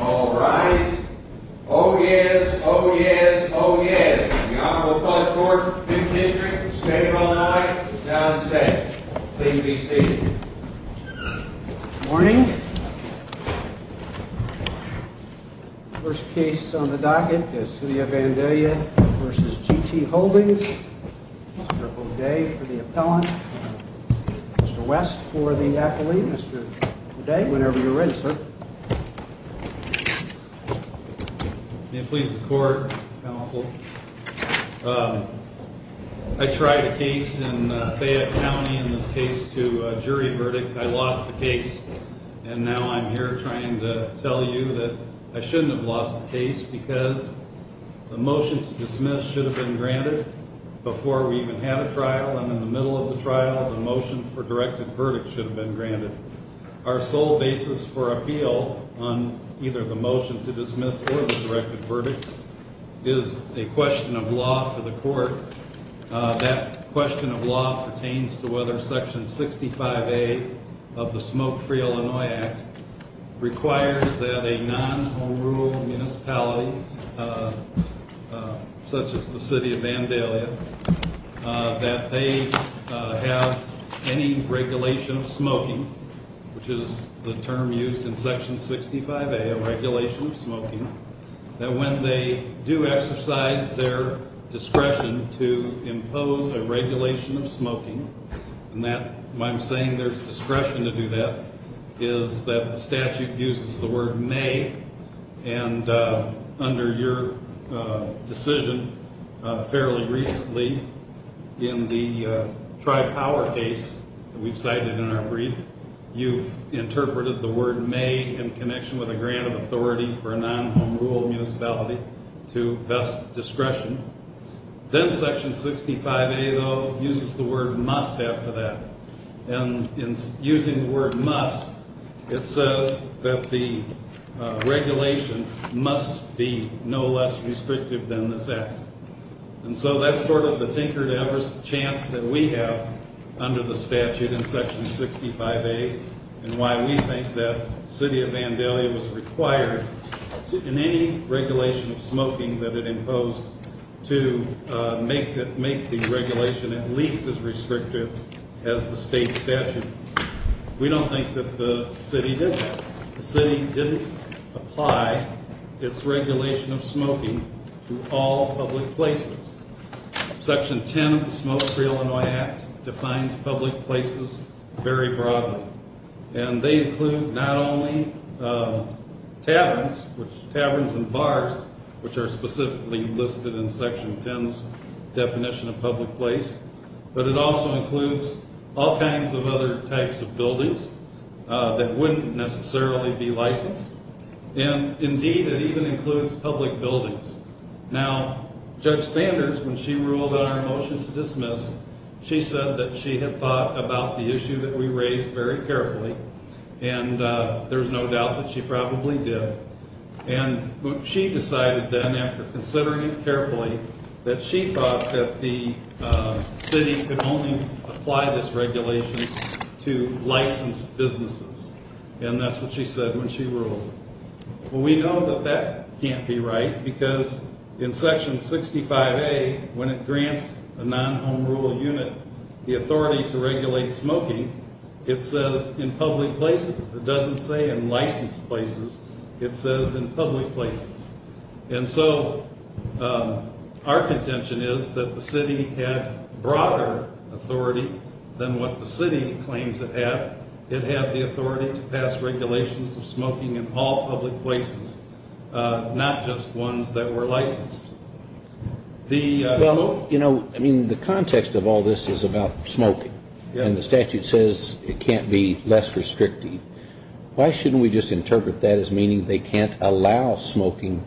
All rise. Oh yes, oh yes, oh yes. The Honorable Public Court, Fifth District, State of Illinois, is now in session. Please be seated. Good morning. First case on the docket is City of Vandalia v. G & T Holdings. Mr. O'Day for the appellant. Mr. West for the accolade. Mr. O'Day, whenever you're ready, sir. May it please the Court, Counsel. I tried a case in Fayette County, in this case, to a jury verdict. I lost the case. And now I'm here trying to tell you that I shouldn't have lost the case because the motion to dismiss should have been granted before we even had a trial. And in the middle of the trial, the motion for directed verdict should have been granted. Our sole basis for appeal on either the motion to dismiss or the directed verdict is a question of law for the Court. That question of law pertains to whether Section 65A of the Smoke-Free Illinois Act requires that a non-rural municipality, such as the City of Vandalia, that they have any regulation of smoking, which is the term used in Section 65A, a regulation of smoking, that when they do exercise their discretion to impose a regulation of smoking, and that I'm saying there's discretion to do that, is that the statute uses the word may, and under your decision fairly recently in the Tribe Power case that we've cited in our brief, you've interpreted the word may in connection with a grant of authority for a non-rural municipality to vest discretion. Then Section 65A, though, uses the word must after that. And in using the word must, it says that the regulation must be no less restrictive than this act. And so that's sort of the tinkered-ever chance that we have under the statute in Section 65A, and why we think that the City of Vandalia was required in any regulation of smoking that it imposed to make the regulation at least as restrictive as the state statute. We don't think that the city did that. The city didn't apply its regulation of smoking to all public places. Section 10 of the Smoke-Free Illinois Act defines public places very broadly, and they include not only taverns and bars, which are specifically listed in Section 10's definition of public place, but it also includes all kinds of other types of buildings that wouldn't necessarily be licensed. And indeed, it even includes public buildings. Now, Judge Sanders, when she ruled on our motion to dismiss, she said that she had thought about the issue that we raised very carefully, and there's no doubt that she probably did. And she decided then, after considering it carefully, that she thought that the city could only apply this regulation to licensed businesses. And that's what she said when she ruled. Well, we know that that can't be right, because in Section 65A, when it grants a non-home rule unit the authority to regulate smoking, it says in public places. It doesn't say in licensed places. It says in public places. And so our contention is that the city had broader authority than what the city claims it had. It had the authority to pass regulations of smoking in all public places, not just ones that were licensed. Well, you know, I mean, the context of all this is about smoking. And the statute says it can't be less restrictive. Why shouldn't we just interpret that as meaning they can't allow smoking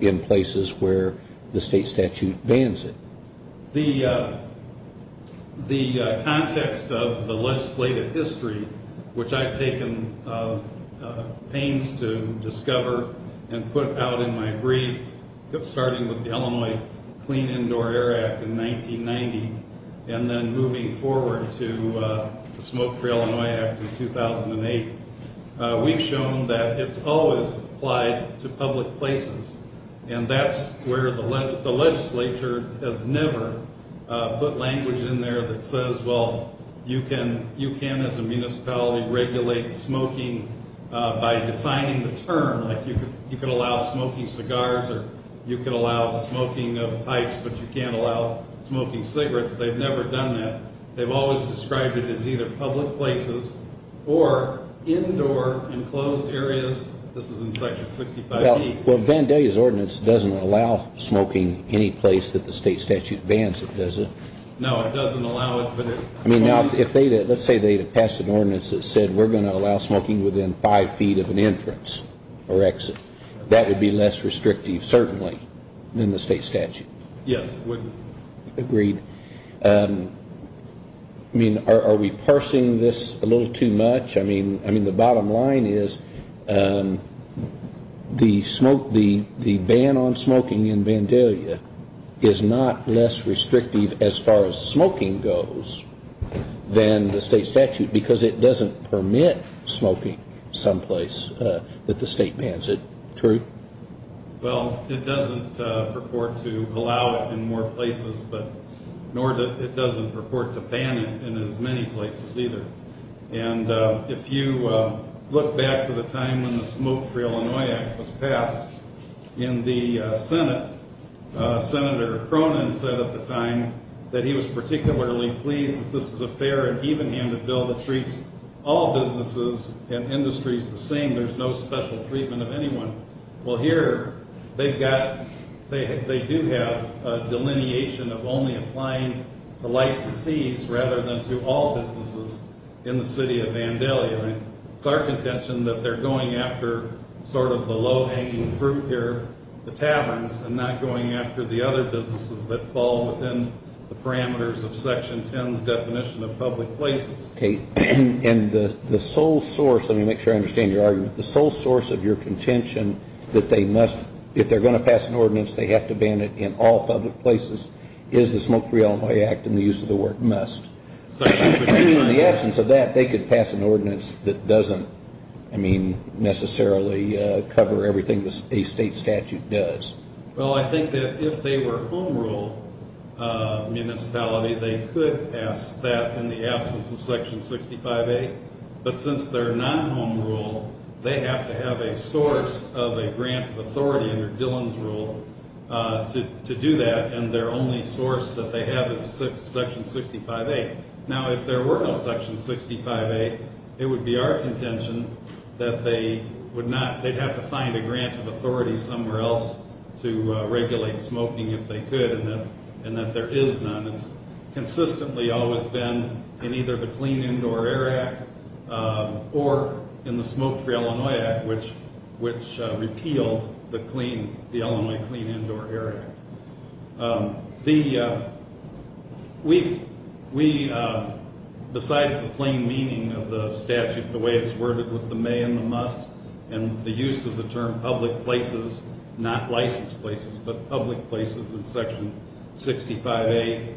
in places where the state statute bans it? The context of the legislative history, which I've taken pains to discover and put out in my brief, starting with the Illinois Clean Indoor Air Act in 1990, and then moving forward to the Smoke-Free Illinois Act in 2008, we've shown that it's always applied to public places. And that's where the legislature has never put language in there that says, well, you can, as a municipality, regulate smoking by defining the term. Like, you can allow smoking cigars, or you can allow smoking of pipes, but you can't allow smoking cigarettes. They've never done that. They've always described it as either public places or indoor enclosed areas. This is in Section 65E. Well, Vandalia's ordinance doesn't allow smoking any place that the state statute bans it, does it? No, it doesn't allow it. I mean, let's say they had passed an ordinance that said we're going to allow smoking within five feet of an entrance or exit. That would be less restrictive, certainly, than the state statute. Yes, it would. Agreed. I mean, are we parsing this a little too much? I mean, the bottom line is the ban on smoking in Vandalia is not less restrictive as far as smoking goes than the state statute, because it doesn't permit smoking someplace that the state bans it. True? Well, it doesn't purport to allow it in more places, nor does it purport to ban it in as many places either. And if you look back to the time when the Smoke-Free Illinois Act was passed in the Senate, Senator Cronin said at the time that he was particularly pleased that this is a fair and even-handed bill that treats all businesses and industries the same. There's no special treatment of anyone. Well, here they do have a delineation of only applying to licensees rather than to all businesses in the city of Vandalia. It's our contention that they're going after sort of the low-hanging fruit here, the taverns, and not going after the other businesses that fall within the parameters of Section 10's definition of public places. Okay. And the sole source, let me make sure I understand your argument, the sole source of your contention that they must, if they're going to pass an ordinance, they have to ban it in all public places, is the Smoke-Free Illinois Act and the use of the word must. In the absence of that, they could pass an ordinance that doesn't, I mean, necessarily cover everything a state statute does. Well, I think that if they were home rule municipality, they could pass that in the absence of Section 65A. But since they're not home rule, they have to have a source of a grant of authority under Dillon's rule to do that, and their only source that they have is Section 65A. Now, if there were no Section 65A, it would be our contention that they would not, they'd have to find a grant of authority somewhere else to regulate smoking if they could, and that there is none. It's consistently always been in either the Clean Indoor Air Act or in the Smoke-Free Illinois Act, which repealed the Illinois Clean Indoor Air Act. The, we, besides the plain meaning of the statute, the way it's worded with the may and the must, and the use of the term public places, not licensed places, but public places in Section 65A,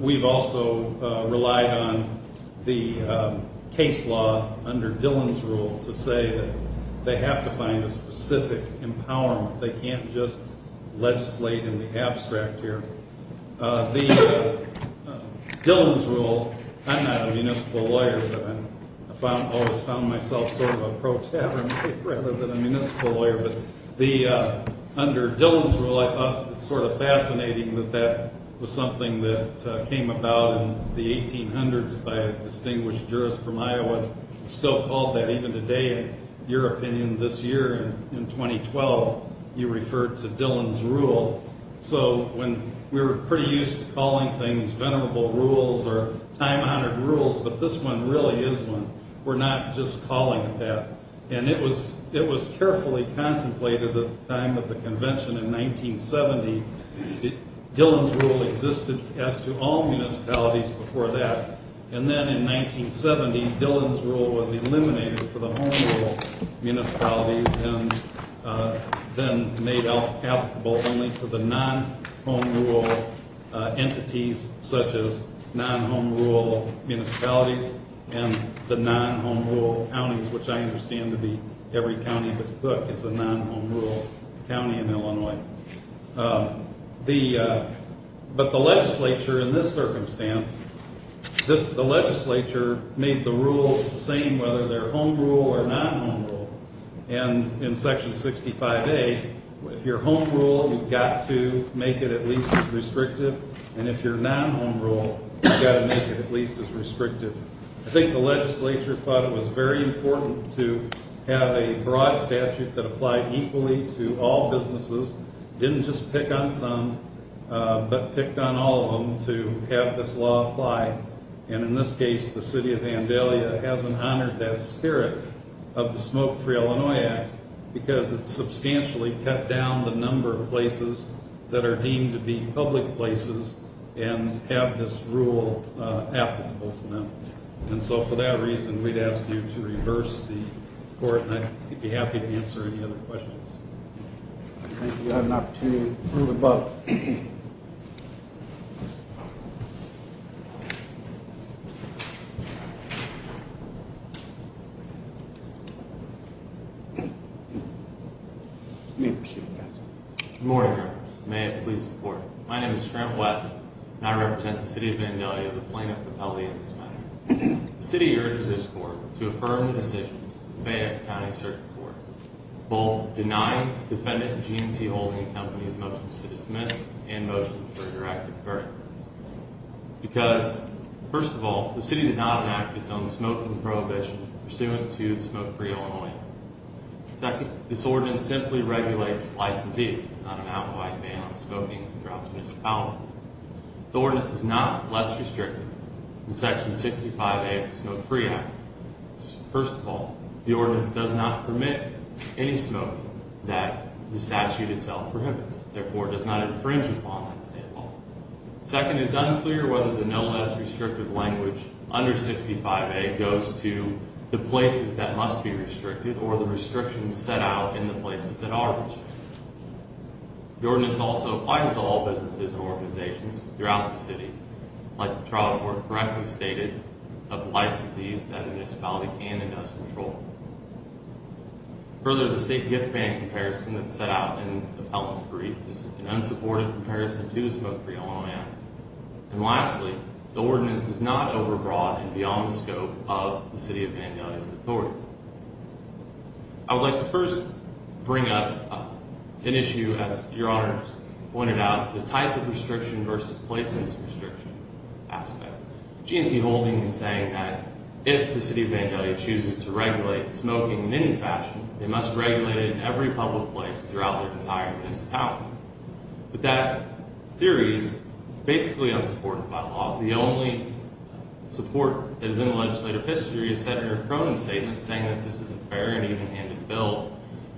we've also relied on the case law under Dillon's rule to say that they have to find a specific empowerment. They can't just legislate in the abstract here. The Dillon's rule, I'm not a municipal lawyer, but I always found myself sort of a pro-tavern rather than a municipal lawyer, but the, under Dillon's rule, I thought it was sort of fascinating that that was something that came about in the 1800s by a distinguished jurist from Iowa, still called that even today, in your opinion, this year in 2012, you referred to Dillon's rule, so when we were pretty used to calling things venerable rules or time-honored rules, but this one really is one. We're not just calling it that, and it was carefully contemplated at the time of the convention in 1970. Dillon's rule existed as to all municipalities before that, and then in 1970, Dillon's rule was eliminated for the home rule municipalities and then made applicable only to the non-home rule entities such as non-home rule municipalities and the non-home rule counties, which I understand to be every county, but look, it's a non-home rule county in Illinois. But the legislature in this circumstance, the legislature made the rules the same whether they're home rule or non-home rule, and in section 65A, if you're home rule, you've got to make it at least as restrictive, and if you're non-home rule, you've got to make it at least as restrictive. I think the legislature thought it was very important to have a broad statute that applied equally to all businesses, didn't just pick on some, but picked on all of them to have this law apply, and in this case, the city of Vandalia hasn't honored that spirit of the Smoke-Free Illinois Act because it's substantially cut down the number of places that are deemed to be public places and have this rule applicable to them, and so for that reason, we'd ask you to reverse the report, and I'd be happy to answer any other questions. Thank you. I have an opportunity to move the bill. Good morning, members. May it please the court. My name is Trent West, and I represent the city of Vandalia, the plaintiff of L.A. in this matter. The city urges this court to affirm the decisions of the Fayette County Circuit Court, both denying defendant and G&T holding companies motions to dismiss and motions for a directed verdict, because, first of all, the city did not enact its own smoking prohibition pursuant to the Smoke-Free Illinois Act. Second, this ordinance simply regulates licensees. There's not an outlawed ban on smoking throughout the municipality. The ordinance is not less restrictive than Section 65A of the Smoke-Free Act. First of all, the ordinance does not permit any smoking that the statute itself prohibits. Therefore, it does not infringe upon that state law. Second, it's unclear whether the no less restrictive language under 65A goes to the places that must be restricted or the restrictions set out in the places that are restricted. The ordinance also applies to all businesses and organizations throughout the city. Like the trial report correctly stated, applies to these that a municipality can and does control. Further, the state gift ban comparison that's set out in the felon's brief is an unsupported comparison to the Smoke-Free Illinois Act. And lastly, the ordinance is not overbroad and beyond the scope of the city of Vandalia's authority. I would like to first bring up an issue, as Your Honors pointed out, the type of restriction versus places restriction aspect. GNC Holding is saying that if the city of Vandalia chooses to regulate smoking in any fashion, they must regulate it in every public place throughout their entire municipality. But that theory is basically unsupported by law. The only support that is in the legislative history is Senator Cronin's statement saying that this is a fair and even-handed bill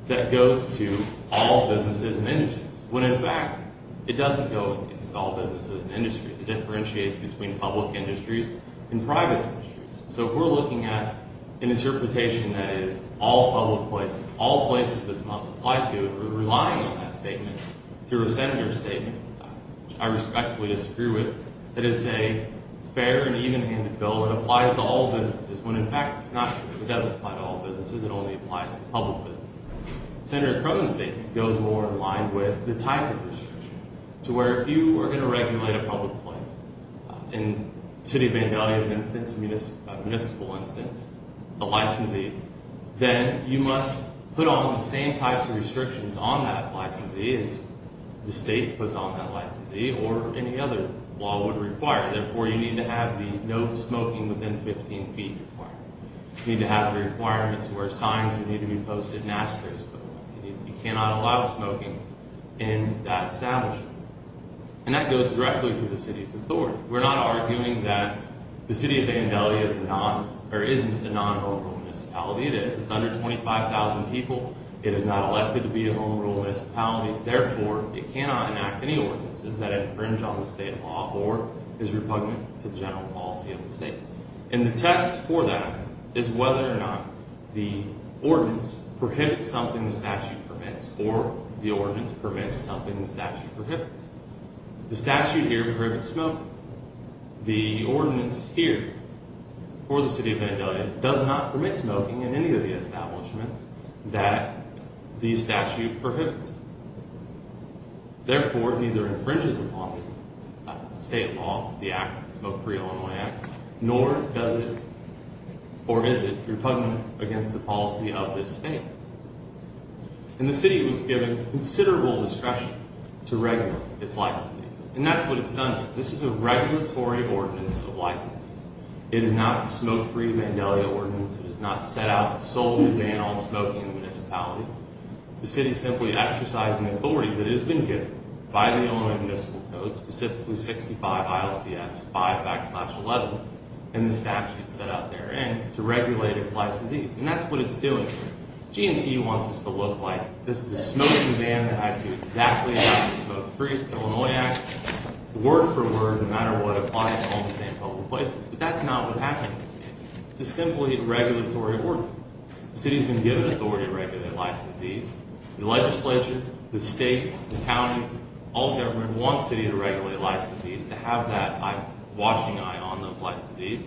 that goes to all businesses and industries. When in fact, it doesn't go against all businesses and industries. It differentiates between public industries and private industries. So if we're looking at an interpretation that is all public places, all places this must apply to, and we're relying on that statement through a senator's statement, which I respectfully disagree with, that it's a fair and even-handed bill that applies to all businesses. When in fact, it's not fair. It doesn't apply to all businesses. It only applies to public businesses. Senator Cronin's statement goes more in line with the type of restriction to where if you were going to regulate a public place, in the city of Vandalia's instance, a municipal instance, a licensee, then you must put on the same types of restrictions on that licensee as the state puts on that licensee or any other law would require. Therefore, you need to have the no smoking within 15 feet requirement. You need to have a requirement to where signs need to be posted and ashtrays put on. You cannot allow smoking in that establishment. And that goes directly to the city's authority. We're not arguing that the city of Vandalia isn't a non-home rule municipality. It is. It's under 25,000 people. It is not elected to be a home rule municipality. Therefore, it cannot enact any ordinances that infringe on the state law or is repugnant to the general policy of the state. And the test for that is whether or not the ordinance prohibits something the statute permits or the ordinance permits something the statute prohibits. The statute here prohibits smoking. The ordinance here for the city of Vandalia does not permit smoking in any of the establishments that the statute prohibits. Therefore, it neither infringes upon the state law, the Act, the Smoke-Free Illinois Act, nor does it, or is it, repugnant against the policy of this state. And the city was given considerable discretion to regulate its licensees. And that's what it's done here. This is a regulatory ordinance of licensees. It is not a smoke-free Vandalia ordinance. It is not set out to solely ban all smoking in the municipality. The city is simply exercising authority that has been given by the Illinois Municipal Code, specifically 65 ILCS 5X-11, and the statute set out therein, to regulate its licensees. And that's what it's doing here. GNCU wants this to look like this is a smoking ban that I do exactly as I did with the Smoke-Free Illinois Act, word for word, no matter what applies to all the same public places. But that's not what happens here. This is simply a regulatory ordinance. The city has been given authority to regulate licensees. The legislature, the state, the county, all government wants the city to regulate licensees, to have that watching eye on those licensees.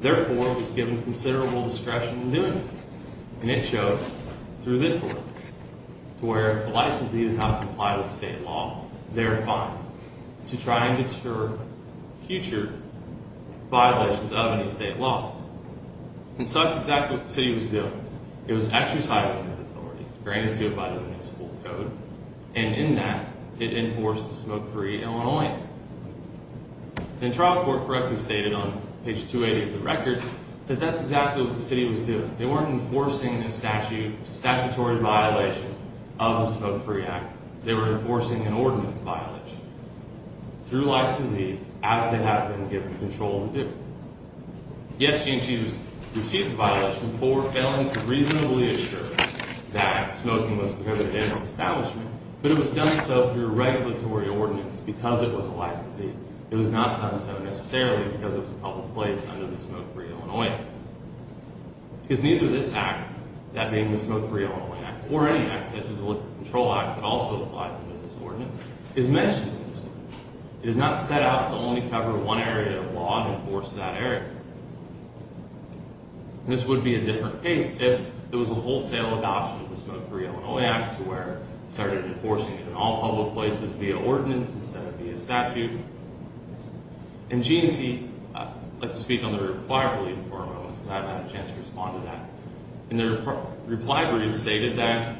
Therefore, it was given considerable discretion in doing it. And it shows through this ordinance, to where if the licensees have to comply with state law, they're fine, to try and deter future violations of any state laws. And so that's exactly what the city was doing. It was exercising its authority, granted to it by the Municipal Code, and in that, it enforced the Smoke-Free Illinois Act. And trial court correctly stated on page 280 of the record that that's exactly what the city was doing. They weren't enforcing a statutory violation of the Smoke-Free Act. They were enforcing an ordinance violation through licensees, as they have been given control to do. Yes, G&G has received a violation before, failing to reasonably assure that smoking was prohibited in its establishment, but it was done so through a regulatory ordinance because it was a licensee. It was not done so necessarily because it was a public place under the Smoke-Free Illinois Act. Because neither this act, that being the Smoke-Free Illinois Act, or any act such as the Liquor Control Act, that also applies to this ordinance, is mentioned in this ordinance. It is not set out to only cover one area of law and enforce that area. And this would be a different case if there was a wholesale adoption of the Smoke-Free Illinois Act, to where it started enforcing it in all public places via ordinance instead of via statute. And G&T, I'd like to speak on the reply brief for a moment, since I haven't had a chance to respond to that. And the reply brief stated that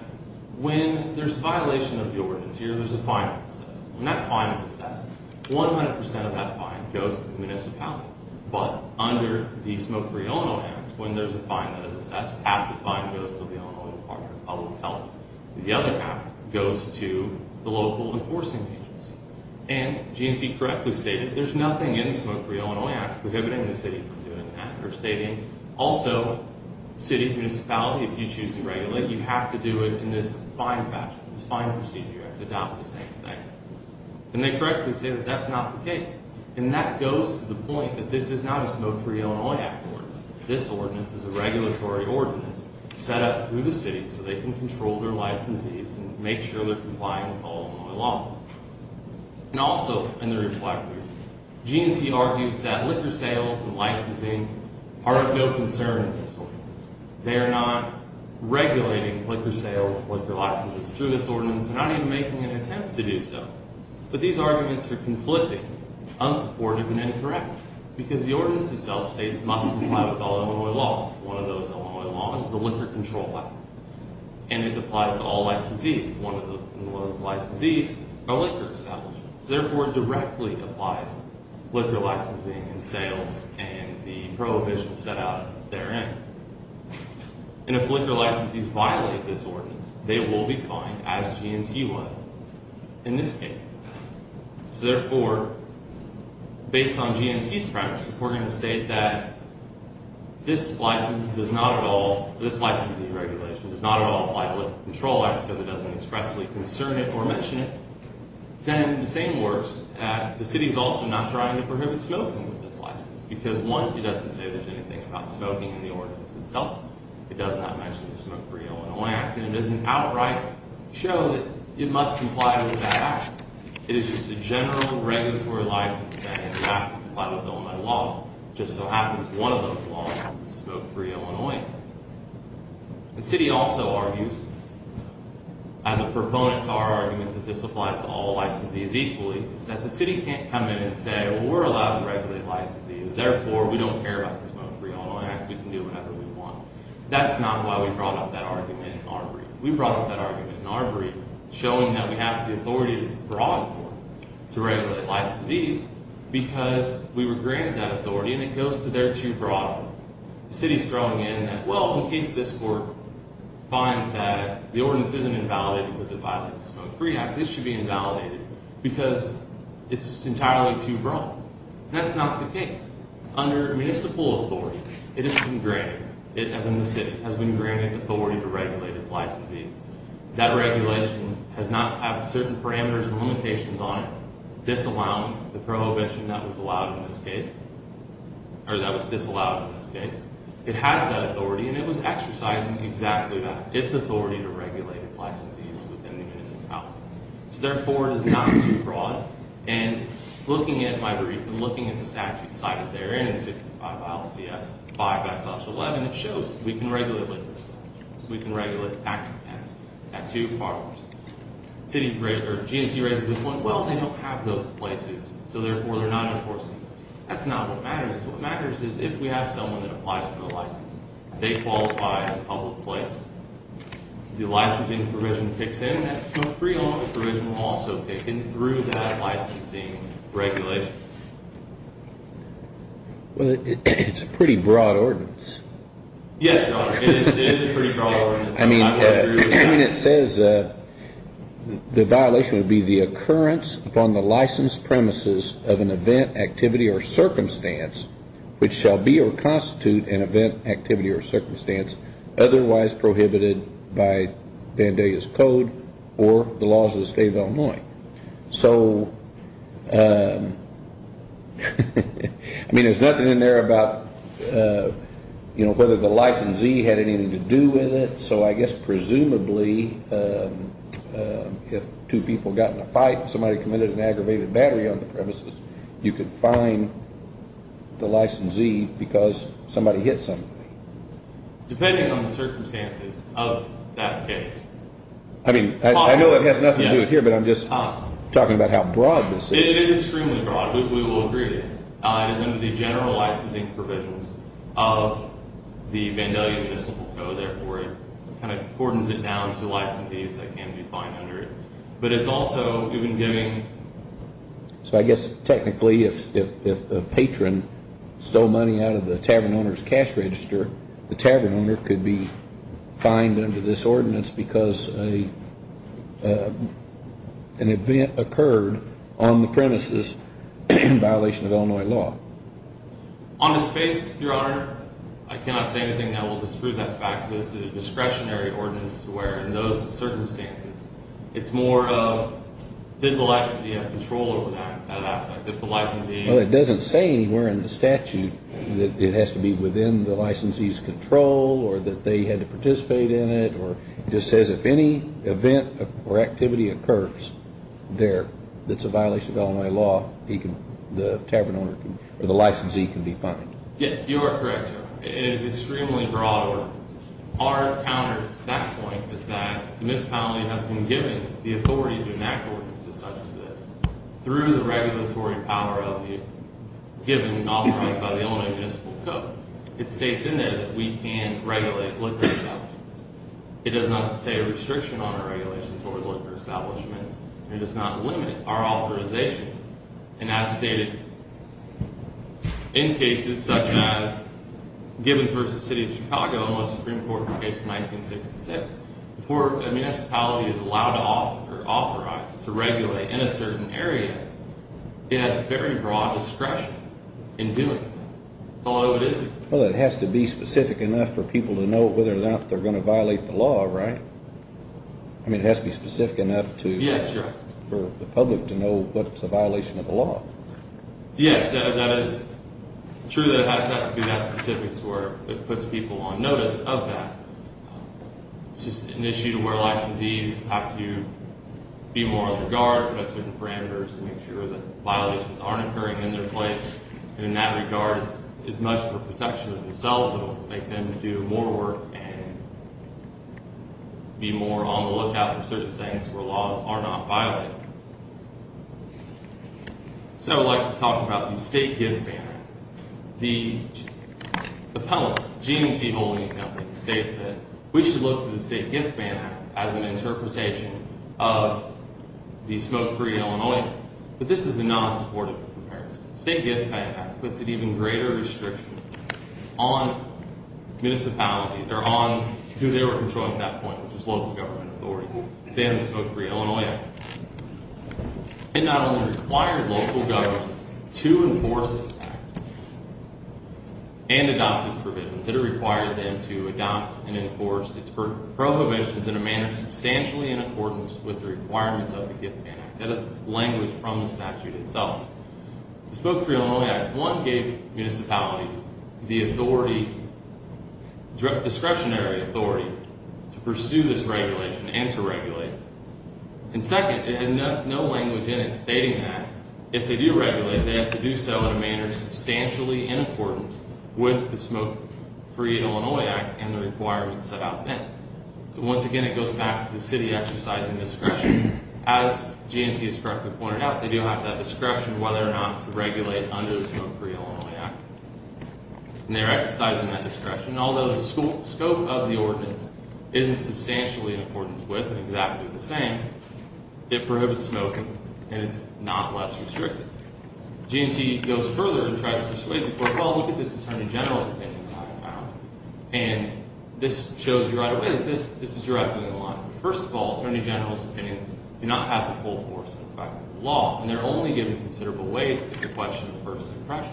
when there's a violation of the ordinance here, there's a fine that's assessed. And that fine is assessed. 100% of that fine goes to the municipality. But under the Smoke-Free Illinois Act, when there's a fine that is assessed, half the fine goes to the Illinois Department of Public Health. The other half goes to the local enforcing agency. And G&T correctly stated there's nothing in the Smoke-Free Illinois Act prohibiting the city from doing that. They're stating also, city, municipality, if you choose to regulate, you have to do it in this fine fashion. This fine procedure, you have to adopt the same thing. And they correctly say that that's not the case. And that goes to the point that this is not a Smoke-Free Illinois Act ordinance. This ordinance is a regulatory ordinance set up through the city so they can control their licensees and make sure they're complying with all Illinois laws. And also, in the reply brief, G&T argues that liquor sales and licensing are of no concern in this ordinance. They are not regulating liquor sales, liquor licenses through this ordinance. They're not even making an attempt to do so. But these arguments are conflicting, unsupportive, and incorrect. Because the ordinance itself states it must comply with all Illinois laws. One of those Illinois laws is the Liquor Control Act. And it applies to all licensees. One of those licensees are liquor establishments. So therefore, it directly applies to liquor licensing and sales and the prohibition set out therein. And if liquor licensees violate this ordinance, they will be fined, as G&T was in this case. So therefore, based on G&T's premise, if we're going to state that this licensing regulation does not at all apply to the Liquor Control Act because it doesn't expressly concern it or mention it, then the same works at the city's also not trying to prohibit smoking with this license. Because one, it doesn't say there's anything about smoking in the ordinance itself. It does not mention the Smoke-Free Illinois Act. And it doesn't outright show that it must comply with that act. It is just a general regulatory license saying it has to comply with Illinois law. Just so happens one of those laws is the Smoke-Free Illinois Act. The city also argues, as a proponent to our argument that this applies to all licensees equally, is that the city can't come in and say, well, we're allowed to regulate licensees. Therefore, we don't care about the Smoke-Free Illinois Act. We can do whatever we want. That's not why we brought up that argument in our brief. We brought up that argument in our brief, showing that we have the authority to brawl it for, to regulate licensees, because we were granted that authority. And it goes to there too broadly. The city's throwing in, well, in case this court finds that the ordinance isn't invalidated because it violates the Smoke-Free Act, this should be invalidated because it's entirely too broad. That's not the case. Under municipal authority, it has been granted, as in the city, has been granted authority to regulate its licensees. That regulation does not have certain parameters or limitations on it disallowing the prohibition that was allowed in this case. Or that was disallowed in this case. It has that authority, and it was exercised in exactly that. It's authority to regulate its licensees within the municipal authority. So therefore, it is not too broad. And looking at my brief, and looking at the statute cited there, and in 65 ILCS, 5 Acts, Office 11, it shows we can regulate licensees. We can regulate tax dependents at two partners. GNC raises the point, well, they don't have those places. So therefore, they're not enforcing those. That's not what matters. What matters is if we have someone that applies for a license. They qualify as a public place. The licensing provision picks in. That Smoke-Free element of provision will also pick in through that licensing regulation. Well, it's a pretty broad ordinance. Yes, Your Honor. It is a pretty broad ordinance. I mean, it says the violation would be the occurrence upon the license premises of an event, activity, or circumstance which shall be or constitute an event, activity, or circumstance otherwise prohibited by Vandalia's Code or the laws of the State of Illinois. So, I mean, there's nothing in there about, you know, whether the licensee had anything to do with it. So I guess presumably if two people got in a fight and somebody committed an aggravated battery on the premises, you could fine the licensee because somebody hit somebody. Depending on the circumstances of that case. I mean, I know it has nothing to do with here, but I'm just talking about how broad this is. It is extremely broad. We will agree with this. It is under the general licensing provisions of the Vandalia Municipal Code. Therefore, it kind of cordons it down to licensees that can be fined under it. But it's also even giving... So I guess technically if a patron stole money out of the tavern owner's cash register, the tavern owner could be fined under this ordinance because an event occurred on the premises in violation of Illinois law. On this case, Your Honor, I cannot say anything that will disprove that fact. This is a discretionary ordinance to where in those circumstances it's more of did the licensee have control over that aspect? If the licensee... Well, it doesn't say anywhere in the statute that it has to be within the licensee's control or that they had to participate in it. It just says if any event or activity occurs there that's a violation of Illinois law, the tavern owner or the licensee can be fined. Yes, you are correct, Your Honor. It is an extremely broad ordinance. Our counter to that point is that the municipality has been given the authority to enact ordinances such as this through the regulatory power of you, given and authorized by the Illinois Municipal Code. It states in there that we can regulate liquor establishments. It does not say a restriction on our regulation towards liquor establishments. It does not limit our authorization. And as stated in cases such as Gibbonsburg v. City of Chicago in the Supreme Court case of 1966, before a municipality is allowed or authorized to regulate in a certain area, it has very broad discretion in doing that. That's all I know it is. Well, it has to be specific enough for people to know whether or not they're going to violate the law, right? I mean, it has to be specific enough for the public to know what's a violation of the law. Yes, that is true that it has to be that specific to where it puts people on notice of that. It's just an issue to where licensees have to be more on their guard about certain parameters and make sure that violations aren't occurring in their place. And in that regard, it's much for protection of themselves. It will make them do more work and be more on the lookout for certain things where laws are not violated. So I would like to talk about the State Gift Ban Act. The penalty, the GMT holding penalty, states that we should look to the State Gift Ban Act as an interpretation of the smoke-free Illinois. But this is a non-supportive comparison. The State Gift Ban Act puts an even greater restriction on municipalities, or on who they were controlling at that point, which was local government authority, than the smoke-free Illinois Act. It not only required local governments to enforce this act and adopt its provisions, it required them to adopt and enforce its prohibitions in a manner substantially in accordance with the requirements of the Gift Ban Act. That is language from the statute itself. The smoke-free Illinois Act, one, gave municipalities the discretionary authority to pursue this regulation and to regulate. And second, it had no language in it stating that if they do regulate, they have to do so in a manner substantially in accordance with the smoke-free Illinois Act and the requirements set out then. So once again, it goes back to the city exercising discretion. As GMT has correctly pointed out, they do have that discretion whether or not to regulate under the smoke-free Illinois Act. And they're exercising that discretion. Although the scope of the ordinance isn't substantially in accordance with and exactly the same, it prohibits smoking and it's not less restrictive. GMT goes further and tries to persuade the court, well, look at this Attorney General's opinion that I found. And this shows you right away that this is directly in line. First of all, Attorney General's opinions do not have the full force and effect of the law. And they're only given considerable weight if it's a question of first impression.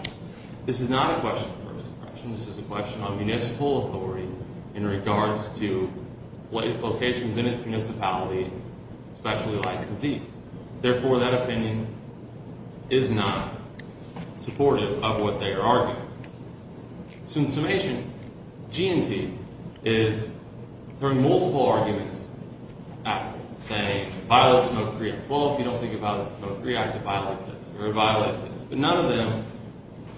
This is not a question of first impression. This is a question of municipal authority in regards to locations in its municipality, especially licensees. Therefore, that opinion is not supportive of what they are arguing. So in summation, GMT is throwing multiple arguments at it. Say, violates Smoke-Free Act. Well, if you don't think about the Smoke-Free Act, it violates it. But none of them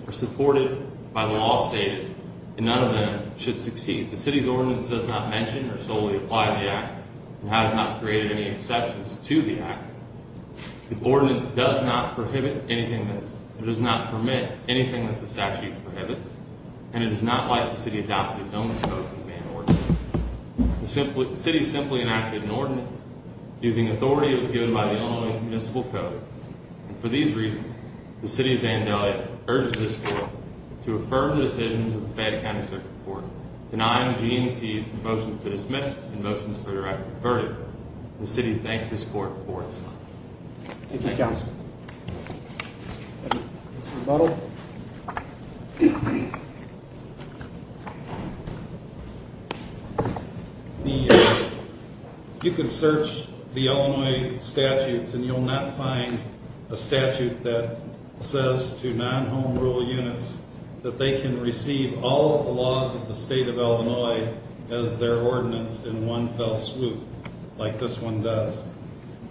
are supported by the law stated. And none of them should succeed. The city's ordinance does not mention or solely apply the act. It has not created any exceptions to the act. The ordinance does not prohibit anything that's, does not permit anything that the statute prohibits. And it is not like the city adopted its own smoking ban ordinance. The city simply enacted an ordinance using authority that was given by the Illinois Municipal Code. And for these reasons, the city of Vandalia urges this court to affirm the decisions of the Fayette County Circuit Court. Denying GMT is a motion to dismiss and a motion for a direct verdict. The city thanks this court for its time. Thank you, Counselor. Mr. Butler. You can search the Illinois statutes and you'll not find a statute that says to non-home rule units that they can receive all of the laws of the state of Illinois as their ordinance in one fell swoop. Like this one does.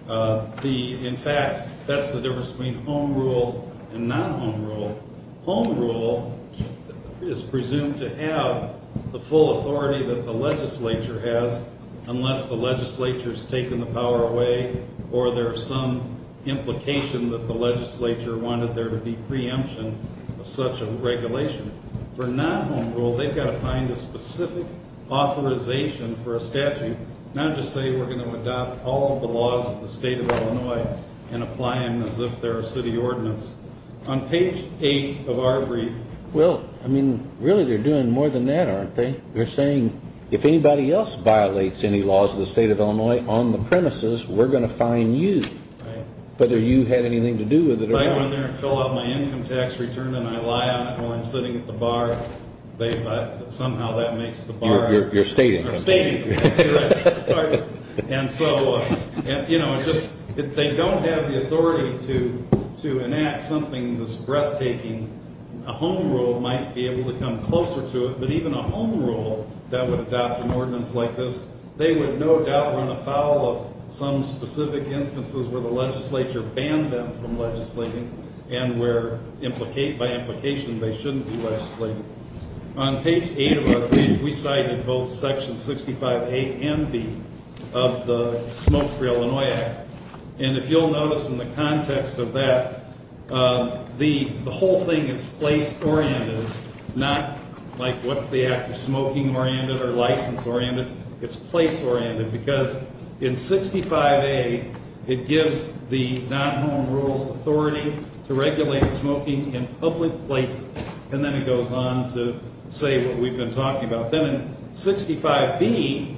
In fact, that's the difference between home rule and non-home rule. Home rule is presumed to have the full authority that the legislature has, unless the legislature's taken the power away, or there's some implication that the legislature wanted there to be preemption of such a regulation. For non-home rule, they've got to find a specific authorization for a statute, not just say we're going to adopt all of the laws of the state of Illinois and apply them as if they're a city ordinance. On page 8 of our brief... Well, I mean, really they're doing more than that, aren't they? They're saying, if anybody else violates any laws of the state of Illinois on the premises, we're going to fine you, whether you had anything to do with it or not. If I go in there and fill out my income tax return and I lie on it while I'm sitting at the bar, somehow that makes the bar... You're stating. I'm stating. And so, you know, if they don't have the authority to enact something this breathtaking, a home rule might be able to come closer to it, but even a home rule that would adopt an ordinance like this, they would no doubt run afoul of some specific instances where the legislature banned them from legislating and where by implication they shouldn't be legislating. On page 8 of our brief, we cited both Section 65A and B of the Smoke-Free Illinois Act, and if you'll notice in the context of that, the whole thing is place-oriented, not like what's the act of smoking-oriented or license-oriented. It's place-oriented because in 65A, it gives the non-home rules authority to regulate smoking in public places, and then it goes on to say what we've been talking about. Then in 65B,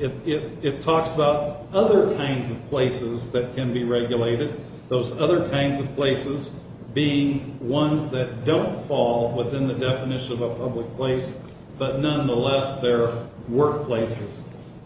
it talks about other kinds of places that can be regulated, those other kinds of places being ones that don't fall within the definition of a public place, but nonetheless, they're workplaces.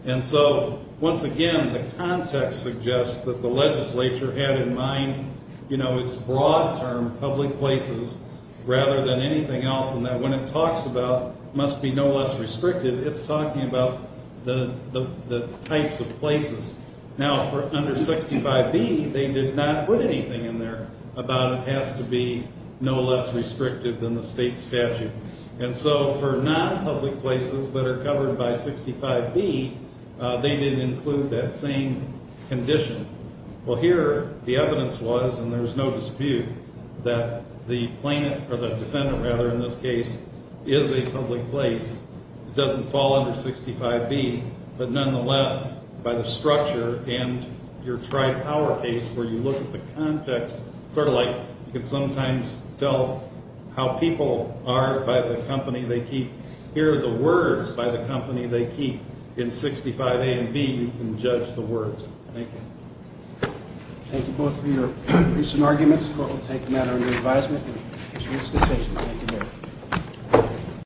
And so, once again, the context suggests that the legislature had in mind, you know, its broad term, public places, rather than anything else, and that when it talks about must be no less restricted, it's talking about the types of places. Now, for under 65B, they did not put anything in there about it has to be no less restricted than the state statute. And so, for non-public places that are covered by 65B, they didn't include that same condition. Well, here, the evidence was, and there's no dispute, that the defendant in this case is a public place, doesn't fall under 65B, but nonetheless, by the structure and your tri-power case, where you look at the context, sort of like you can sometimes tell how people are by the company they keep. Here are the words by the company they keep. In 65A and B, you can judge the words. Thank you. Thank you both for your recent arguments. The court will take the matter into advisement. Mr. Winston, thank you very much.